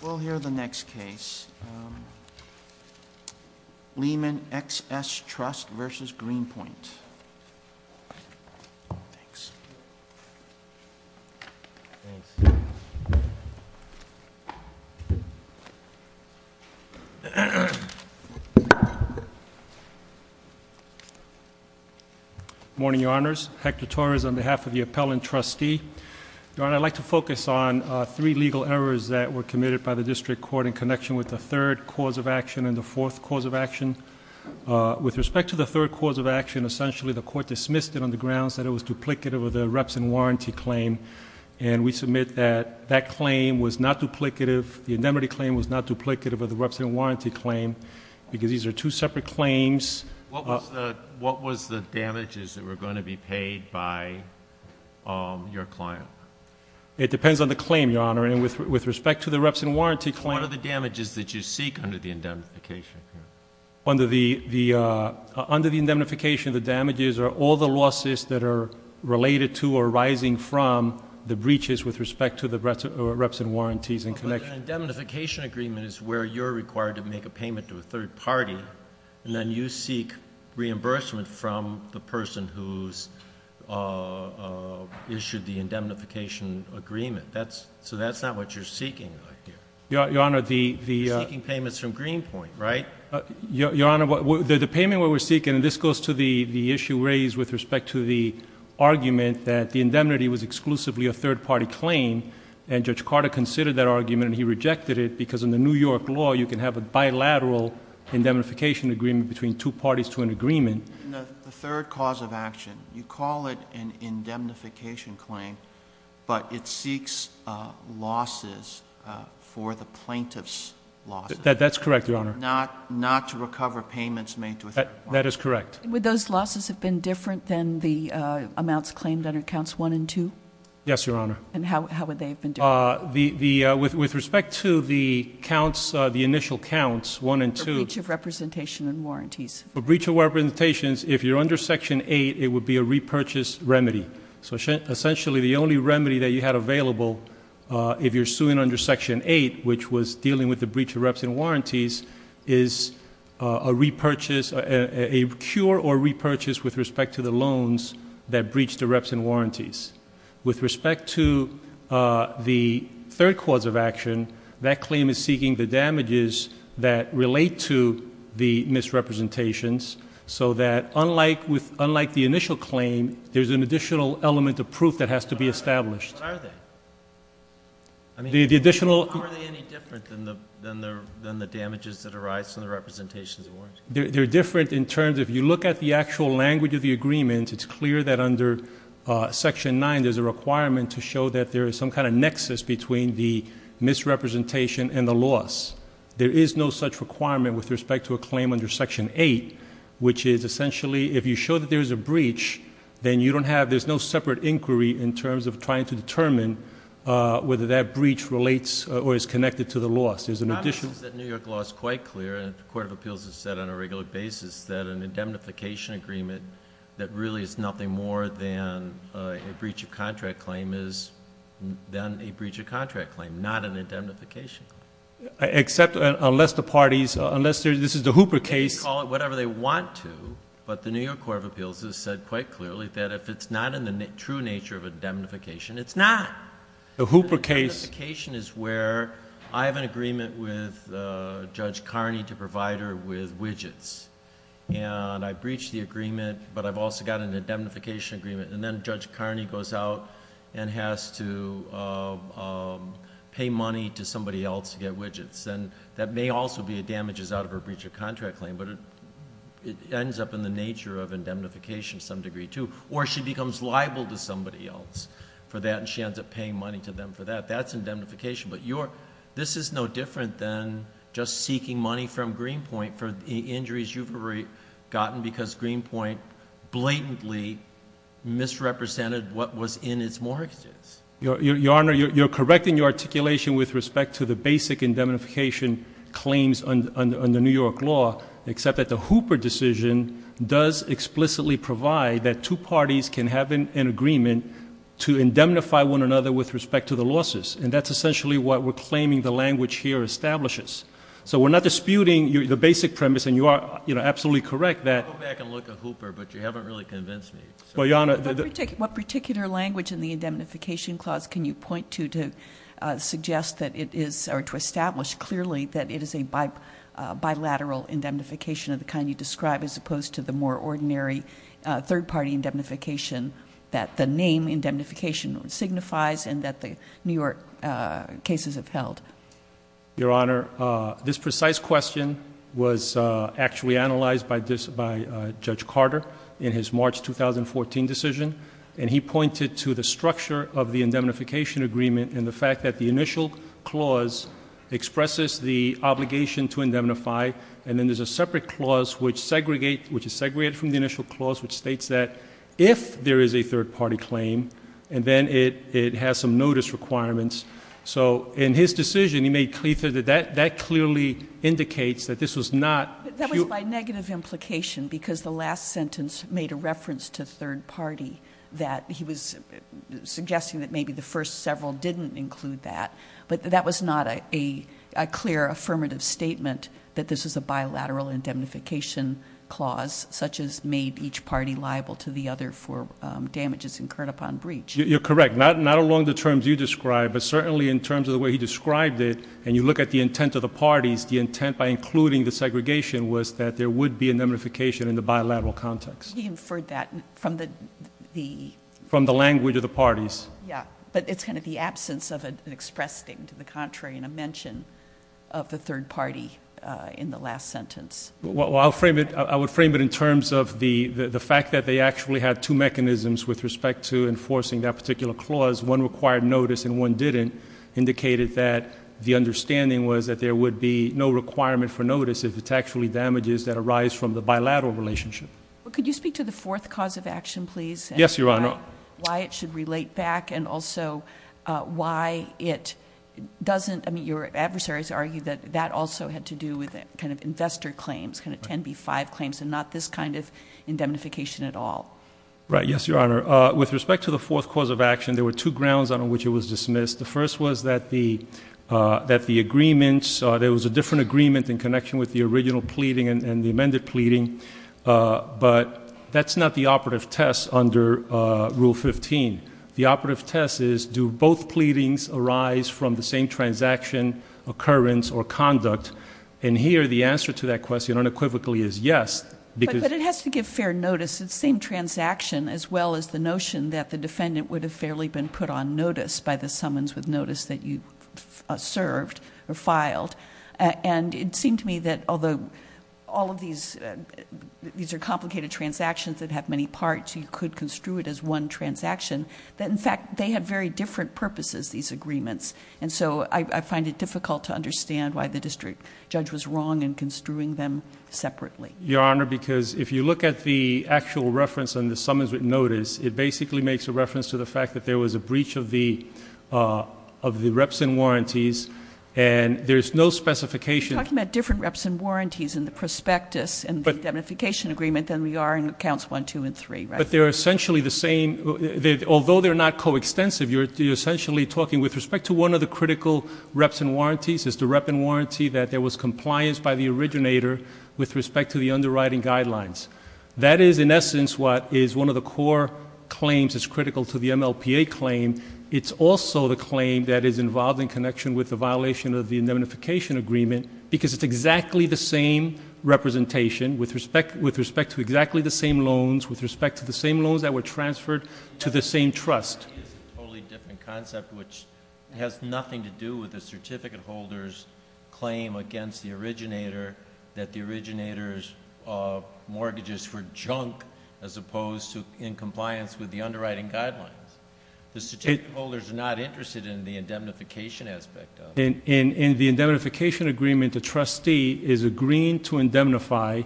We'll hear the next case. Lehman XS Trust vs. Greenpoint. Good morning, Your Honors. Hector Torres on behalf of the appellant trustee. Your Honor, I'd like to focus on three legal errors that were committed by the district court in connection with the third cause of action and the fourth cause of action. With respect to the third cause of action, essentially the court dismissed it on the grounds that it was duplicative of the reps and warranty claim. And we submit that that claim was not duplicative, the indemnity claim was not duplicative of the reps and warranty claim, because these are two separate claims. What was the damages that were going to be paid by your client? It depends on the claim, Your Honor. And with respect to the reps and warranty claim What are the damages that you seek under the indemnification? Under the indemnification, the damages are all the losses that are related to or arising from the breaches with respect to the reps and warranties in connection. But an indemnification agreement is where you're required to make a payment to a third party and then you seek reimbursement from the person who's issued the indemnification agreement. So that's not what you're seeking. Your Honor, the You're seeking payments from Greenpoint, right? Your Honor, the payment we're seeking, and this goes to the issue raised with respect to the argument that the indemnity was exclusively a third party claim and Judge Carter considered that argument and he rejected it because in the New York law you can have a bilateral indemnification agreement between two parties to an agreement. The third cause of action, you call it an indemnification claim, but it seeks losses for the plaintiff's losses. That's correct, Your Honor. Not to recover payments made to a third party. That is correct. Would those losses have been different than the amounts claimed under Counts 1 and 2? Yes, Your Honor. And how would they have been different? With respect to the counts, the initial counts, 1 and 2- For breach of representation and warranties. For breach of representations, if you're under Section 8, it would be a repurchase remedy. So essentially the only remedy that you had available if you're suing under Section 8, which was dealing with the breach of reps and warranties, is a repurchase, a cure or repurchase with respect to the loans that breached the reps and warranties. With respect to the third cause of action, that claim is seeking the damages that relate to the misrepresentations, so that unlike the initial claim, there's an additional element of proof that has to be established. What are they? The additional- How are they any different than the damages that arise from the representations and warranties? They're different in terms, if you look at the actual language of the agreement, it's clear that under Section 9 there's a requirement to show that there is some kind of nexus between the misrepresentation and the loss. There is no such requirement with respect to a claim under Section 8, which is essentially, if you show that there's a breach, then you don't have, there's no separate inquiry in terms of trying to determine whether that breach relates or is connected to the loss. There's an additional- An indemnification agreement that really is nothing more than a breach of contract claim is then a breach of contract claim, not an indemnification. Except unless the parties, unless this is the Hooper case- They can call it whatever they want to, but the New York Court of Appeals has said quite clearly that if it's not in the true nature of indemnification, it's not. The Hooper case- And I've breached the agreement, but I've also got an indemnification agreement. And then Judge Carney goes out and has to pay money to somebody else to get widgets. And that may also be a damages out of a breach of contract claim, but it ends up in the nature of indemnification to some degree, too. Or she becomes liable to somebody else for that, and she ends up paying money to them for that. That's indemnification, but this is no different than just seeking money from Greenpoint for the injuries you've already gotten because Greenpoint blatantly misrepresented what was in its mortgages. Your Honor, you're correcting your articulation with respect to the basic indemnification claims under New York law. Except that the Hooper decision does explicitly provide that two parties can have an agreement to indemnify one another with respect to the losses. And that's essentially what we're claiming the language here establishes. So we're not disputing the basic premise, and you are absolutely correct that- Go back and look at Hooper, but you haven't really convinced me. Well, Your Honor- What particular language in the indemnification clause can you point to to suggest that it is, or to establish clearly that it is a bilateral indemnification of the kind you describe, as opposed to the more ordinary third-party indemnification that the name indemnification signifies and that the New York cases have held? Your Honor, this precise question was actually analyzed by Judge Carter in his March 2014 decision. And he pointed to the structure of the indemnification agreement and the fact that the initial clause expresses the obligation to indemnify. And then there's a separate clause which segregates, which is segregated from the initial clause, which states that if there is a third-party claim, and then it has some notice requirements. So in his decision, he made clear that that clearly indicates that this was not- That was by negative implication because the last sentence made a reference to third-party, that he was suggesting that maybe the first several didn't include that. But that was not a clear affirmative statement that this was a bilateral indemnification clause, such as made each party liable to the other for damages incurred upon breach. You're correct. Not along the terms you described, but certainly in terms of the way he described it, and you look at the intent of the parties, the intent, by including the segregation, was that there would be indemnification in the bilateral context. He inferred that from the- From the language of the parties. Yeah. But it's kind of the absence of an expressed thing to the contrary and a mention of the third party in the last sentence. Well, I would frame it in terms of the fact that they actually had two mechanisms with respect to enforcing that particular clause. One required notice and one didn't, indicated that the understanding was that there would be no requirement for notice if it's actually damages that arise from the bilateral relationship. Could you speak to the fourth cause of action, please? Yes, Your Honor. Why it should relate back and also why it doesn't- I mean, your adversaries argue that that also had to do with kind of investor claims, kind of 10B5 claims and not this kind of indemnification at all. Right. Yes, Your Honor. With respect to the fourth cause of action, there were two grounds on which it was dismissed. The first was that the agreements, there was a different agreement in connection with the original pleading and the amended pleading, but that's not the operative test under Rule 15. The operative test is do both pleadings arise from the same transaction, occurrence, or conduct? And here the answer to that question unequivocally is yes. But it has to give fair notice. It's the same transaction as well as the notion that the defendant would have fairly been put on notice by the summons with notice that you served or filed. And it seemed to me that although all of these are complicated transactions that have many parts, you could construe it as one transaction. In fact, they have very different purposes, these agreements, and so I find it difficult to understand why the district judge was wrong in construing them separately. Your Honor, because if you look at the actual reference on the summons with notice, it basically makes a reference to the fact that there was a breach of the reps and warranties, and there's no specification. You're talking about different reps and warranties in the prospectus and the indemnification agreement than we are in Accounts 1, 2, and 3, right? But they're essentially the same. Although they're not coextensive, you're essentially talking with respect to one of the critical reps and warranties is the rep and warranty that there was compliance by the originator with respect to the underwriting guidelines. That is, in essence, what is one of the core claims that's critical to the MLPA claim. It's also the claim that is involved in connection with the violation of the indemnification agreement because it's exactly the same representation with respect to exactly the same loans, with respect to the same loans that were transferred to the same trust. The trustee is a totally different concept, which has nothing to do with the certificate holder's claim against the originator that the originator's mortgages were junk as opposed to in compliance with the underwriting guidelines. The certificate holders are not interested in the indemnification aspect of it. In the indemnification agreement, the trustee is agreeing to indemnify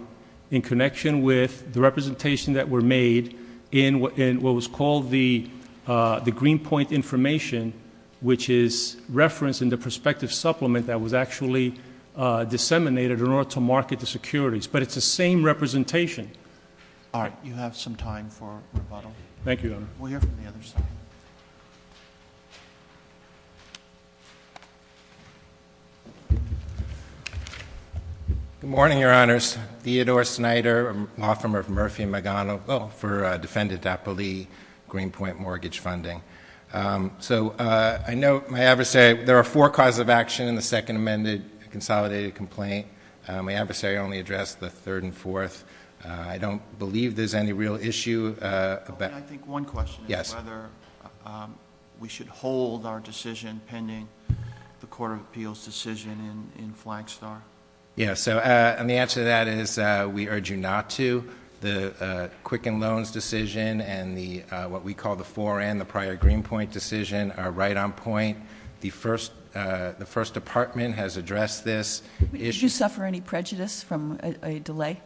in connection with the representation that were made in what was called the Greenpoint information, which is referenced in the prospective supplement that was actually disseminated in order to market the securities. But it's the same representation. All right. You have some time for rebuttal. Thank you, Your Honor. We'll hear from the other side. Good morning, Your Honors. Theodore Snyder, law firm of Murphy & Magano, for Defendant Appleby Greenpoint Mortgage Funding. So I know my adversary, there are four causes of action in the Second Amended Consolidated Complaint. My adversary only addressed the third and fourth. I don't believe there's any real issue. I think one question is whether we should hold our decision pending the Court of Appeals' decision in Flagstar. Yes. And the answer to that is we urge you not to. The Quicken Loans decision and what we call the fore-end, the prior Greenpoint decision, are right on point. The First Department has addressed this issue. Did you suffer any prejudice from a delay?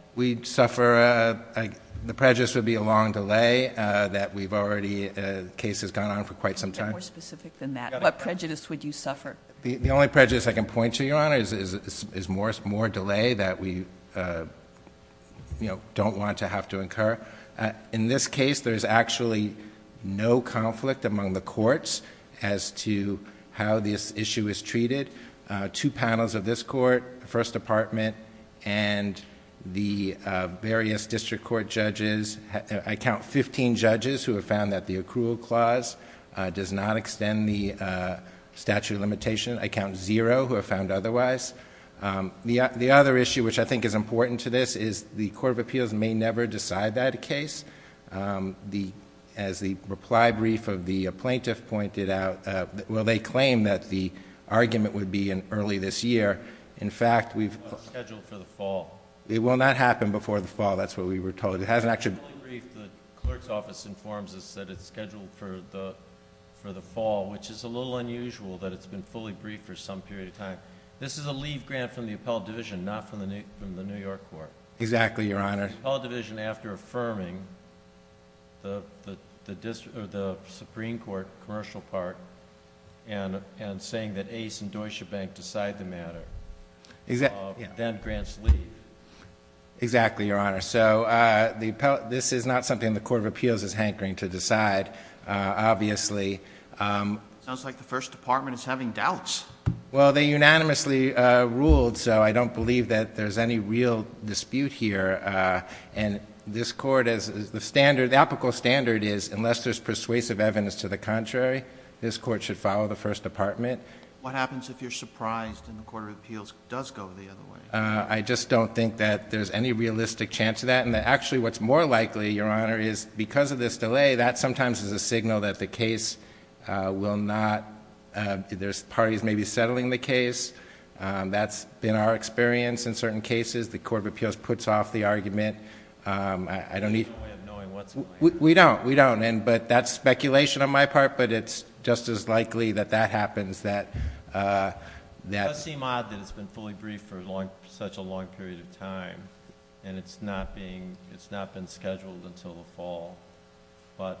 The prejudice would be a long delay that we've already, the case has gone on for quite some time. More specific than that. What prejudice would you suffer? The only prejudice I can point to, Your Honors, is more delay that we don't want to have to incur. In this case, there's actually no conflict among the courts as to how this issue is treated. Two panels of this court, the First Department and the various district court judges, I count 15 judges who have found that the accrual clause does not extend the statute of limitation. I count zero who have found otherwise. The other issue, which I think is important to this, is the Court of Appeals may never decide that case. As the reply brief of the plaintiff pointed out, well, they claim that the argument would be in early this year. In fact, we've- Scheduled for the fall. It will not happen before the fall. That's what we were told. It hasn't actually- The Clerk's Office informs us that it's scheduled for the fall, which is a little unusual that it's been fully briefed for some period of time. This is a leave grant from the Appellate Division, not from the New York Court. Exactly, Your Honor. The Appellate Division, after affirming the Supreme Court commercial part and saying that Ace and Deutsche Bank decide the matter, then grants leave. Exactly, Your Honor. So this is not something the Court of Appeals is hankering to decide, obviously. Sounds like the First Department is having doubts. Well, they unanimously ruled, so I don't believe that there's any real dispute here. And this Court, the standard, the apical standard is unless there's persuasive evidence to the contrary, this Court should follow the First Department. What happens if you're surprised and the Court of Appeals does go the other way? I just don't think that there's any realistic chance of that. And actually, what's more likely, Your Honor, is because of this delay, that sometimes is a signal that the case will not... There's parties maybe settling the case. That's been our experience in certain cases. The Court of Appeals puts off the argument. I don't need... There's no way of knowing what's going to happen. We don't. We don't. But that's speculation on my part, but it's just as likely that that happens, that... It does seem odd that it's been fully briefed for such a long period of time, and it's not being... it's not been scheduled until the fall. But,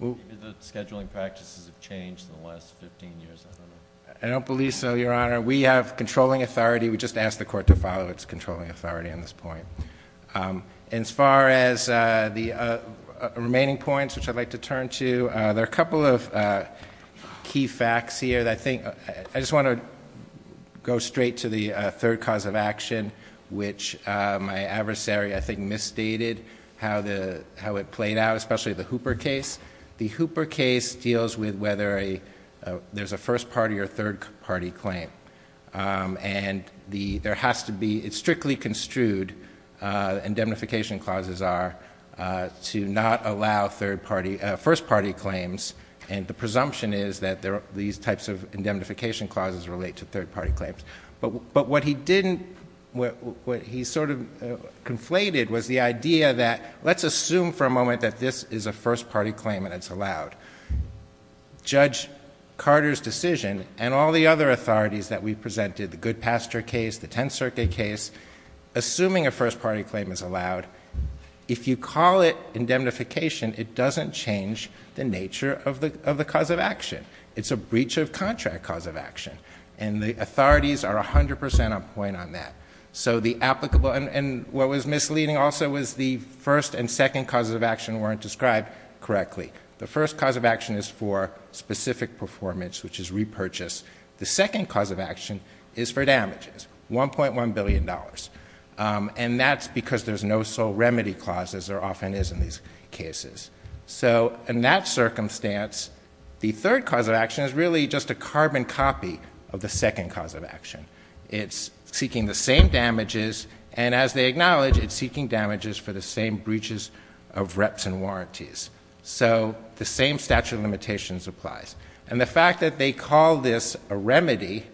maybe the scheduling practices have changed in the last 15 years. I don't know. I don't believe so, Your Honor. We have controlling authority. We just asked the Court to follow its controlling authority on this point. And as far as the remaining points, which I'd like to turn to, there are a couple of key facts here that I think... I just want to go straight to the third cause of action, which my adversary, I think, misstated how it played out, especially the Hooper case. The Hooper case deals with whether there's a first-party or third-party claim. And there has to be... It's strictly construed, indemnification clauses are, to not allow first-party claims. And the presumption is that these types of indemnification clauses relate to third-party claims. But, what he didn't... what he sort of conflated was the idea that, let's assume for a moment that this is a first-party claim and it's allowed. Judge Carter's decision and all the other authorities that we presented, the Goodpaster case, the Tenth Circuit case, assuming a first-party claim is allowed... If you call it indemnification, it doesn't change the nature of the cause of action. It's a breach of contract cause of action. And the authorities are 100 percent on point on that. So, the applicable... and what was misleading also was the first and second causes of action weren't described correctly. The first cause of action is for specific performance, which is repurchase. The second cause of action is for damages, $1.1 billion. And that's because there's no sole remedy clause, as there often is in these cases. So, in that circumstance, the third cause of action is really just a carbon copy of the second cause of action. It's seeking the same damages, and as they acknowledge, it's seeking damages for the same breaches of reps and warranties. So, the same statute of limitations applies. And the fact that they call this a remedy,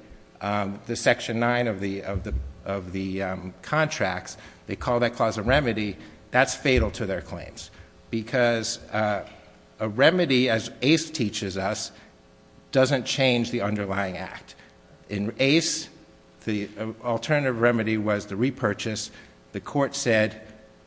the Section 9 of the contracts, they call that clause a remedy, that's fatal to their claims. Because a remedy, as ACE teaches us, doesn't change the underlying act. In ACE, the alternative remedy was the repurchase. The court said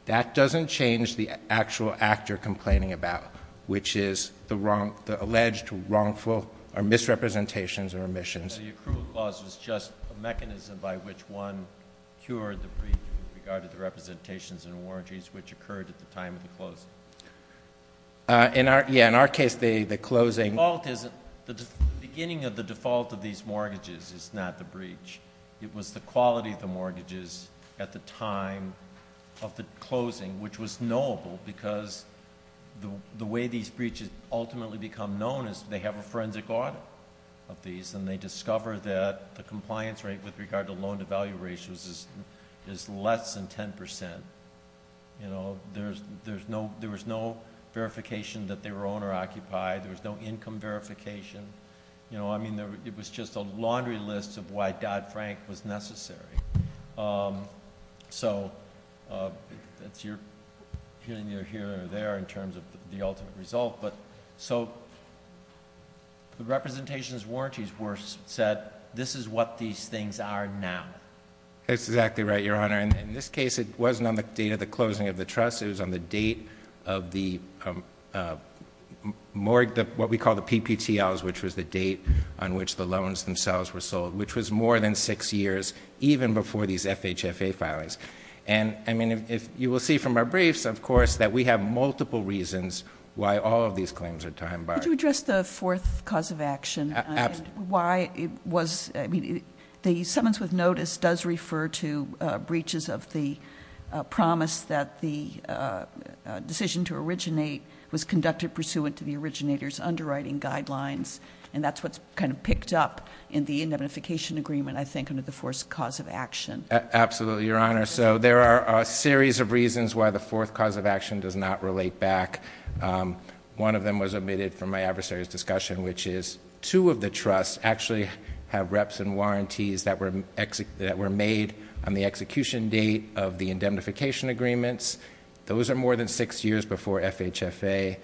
that doesn't change the actual actor complaining about, which is the alleged wrongful or misrepresentations or omissions. The accrual clause was just a mechanism by which one cured the breach in regard to the representations and warranties, which occurred at the time of the closing. In our case, the closing... The default isn't... the beginning of the default of these mortgages is not the breach. It was the quality of the mortgages at the time of the closing, which was knowable. Because the way these breaches ultimately become known is they have a forensic audit of these. And they discover that the compliance rate with regard to loan-to-value ratios is less than 10%. There was no verification that they were owner-occupied. There was no income verification. It was just a laundry list of why Dodd-Frank was necessary. That's your opinion here or there in terms of the ultimate result. The representations warranties were set. This is what these things are now. That's exactly right, Your Honor. In this case, it wasn't on the date of the closing of the trust. It was on the date of what we call the PPTLs, which was the date on which the loans themselves were sold, which was more than six years, even before these FHFA filings. And you will see from our briefs, of course, that we have multiple reasons why all of these claims are time-barred. Could you address the fourth cause of action? Absolutely. The summons with notice does refer to breaches of the promise that the decision to originate was conducted pursuant to the originator's underwriting guidelines. And that's what's kind of picked up in the indemnification agreement, I think, under the fourth cause of action. Absolutely, Your Honor. So there are a series of reasons why the fourth cause of action does not relate back. One of them was omitted from my adversary's discussion, which is two of the trusts actually have reps and warranties that were made on the execution date of the indemnification agreements. Those are more than six years before FHFA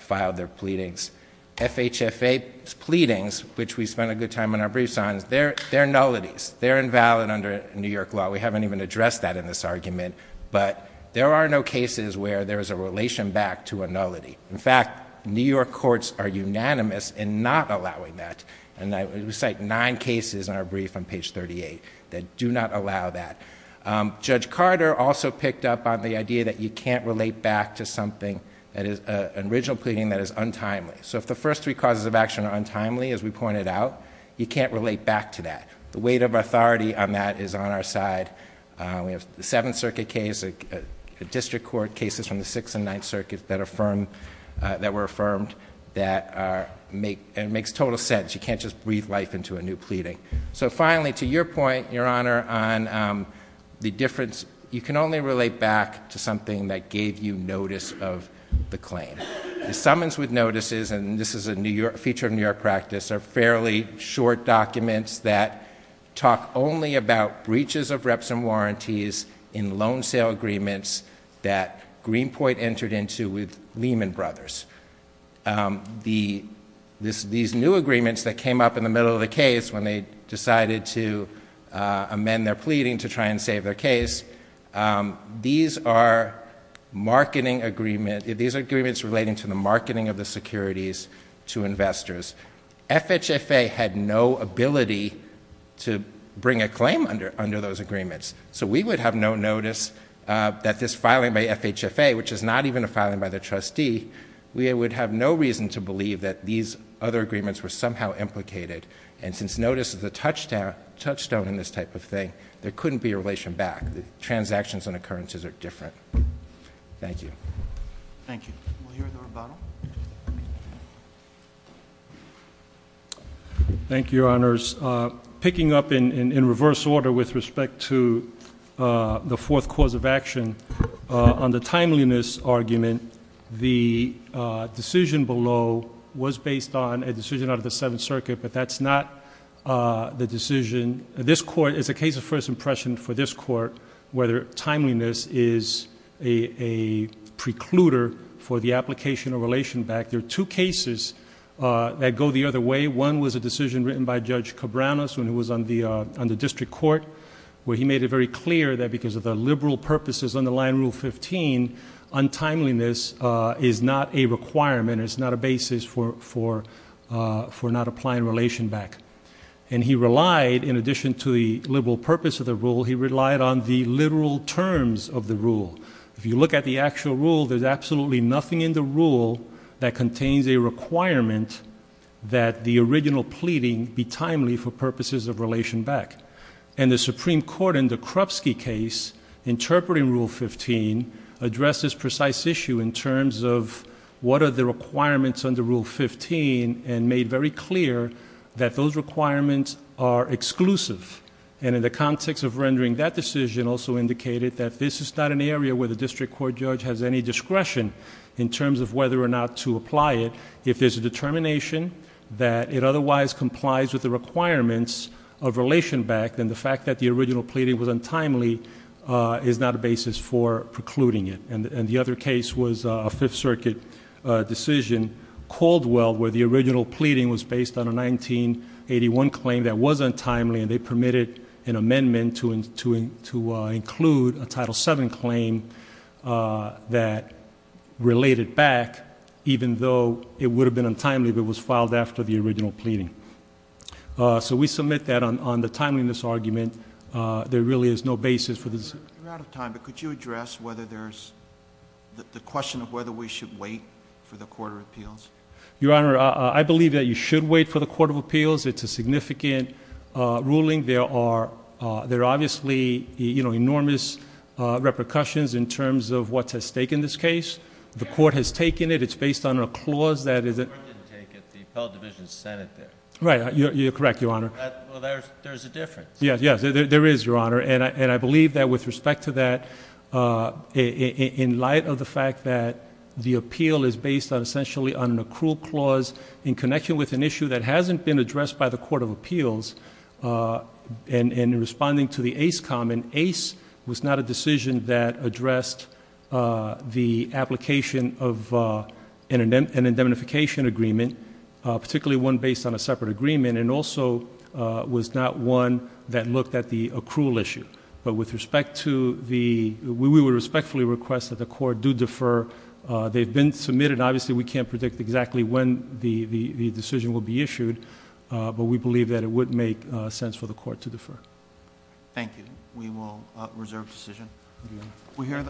filed their pleadings. FHFA's pleadings, which we spent a good time on our briefs on, they're nullities. They're invalid under New York law. We haven't even addressed that in this argument. But there are no cases where there's a relation back to a nullity. In fact, New York courts are unanimous in not allowing that. And we cite nine cases in our brief on page 38 that do not allow that. Judge Carter also picked up on the idea that you can't relate back to something that is an original pleading that is untimely. So if the first three causes of action are untimely, as we pointed out, you can't relate back to that. The weight of authority on that is on our side. We have the Seventh Circuit case, district court cases from the Sixth and Ninth Circuits that were affirmed that makes total sense. You can't just breathe life into a new pleading. So finally, to your point, Your Honor, on the difference, you can only relate back to something that gave you notice of the claim. The summons with notices, and this is a feature of New York practice, are fairly short documents that talk only about breaches of reps and warranties in loan sale agreements that Greenpoint entered into with Lehman Brothers. These new agreements that came up in the middle of the case when they decided to amend their pleading to try and save their case, these are agreements relating to the marketing of the securities to investors. FHFA had no ability to bring a claim under those agreements. So we would have no notice that this filing by FHFA, which is not even a filing by the trustee, we would have no reason to believe that these other agreements were somehow implicated. And since notice is a touchstone in this type of thing, there couldn't be a relation back. The transactions and occurrences are different. Thank you. Thank you. We'll hear the rebuttal. Thank you, Your Honors. Picking up in reverse order with respect to the fourth cause of action, on the timeliness argument, the decision below was based on a decision out of the Seventh Circuit, but that's not the decision. This Court, it's a case of first impression for this Court whether timeliness is a precluder for the application of relation back. There are two cases that go the other way. One was a decision written by Judge Cabranes when he was on the district court, where he made it very clear that because of the liberal purposes underlying Rule 15, untimeliness is not a requirement. It's not a basis for not applying relation back. And he relied, in addition to the liberal purpose of the rule, he relied on the literal terms of the rule. If you look at the actual rule, there's absolutely nothing in the rule that contains a requirement that the original pleading be timely for purposes of relation back. And the Supreme Court in the Krupski case, interpreting Rule 15, addressed this precise issue in terms of what are the requirements under Rule 15 and made very clear that those requirements are exclusive. And in the context of rendering that decision also indicated that this is not an area where the district court judge has any discretion in terms of whether or not to apply it if there's a determination that it otherwise complies with the requirements of relation back, then the fact that the original pleading was untimely is not a basis for precluding it. And the other case was a Fifth Circuit decision, Caldwell, where the original pleading was based on a 1981 claim that was untimely, and they permitted an amendment to include a Title VII claim that related back, even though it would have been untimely if it was filed after the original pleading. So we submit that on the timeliness argument. There really is no basis for this. You're out of time, but could you address whether there's the question of whether we should wait for the Court of Appeals? Your Honor, I believe that you should wait for the Court of Appeals. It's a significant ruling. There are obviously enormous repercussions in terms of what's at stake in this case. The Court has taken it. It's based on a clause that is at stake. Right, you're correct, Your Honor. Well, there's a difference. Yes, there is, Your Honor, and I believe that with respect to that, in light of the fact that the appeal is based essentially on an accrual clause in connection with an issue that hasn't been addressed by the Court of Appeals, and in responding to the Ace comment, Ace was not a decision that addressed the application of an indemnification agreement. Particularly one based on a separate agreement, and also was not one that looked at the accrual issue. But with respect to the, we would respectfully request that the Court do defer. They've been submitted. Obviously, we can't predict exactly when the decision will be issued, but we believe that it would make sense for the Court to defer. Thank you. We will reserve the decision.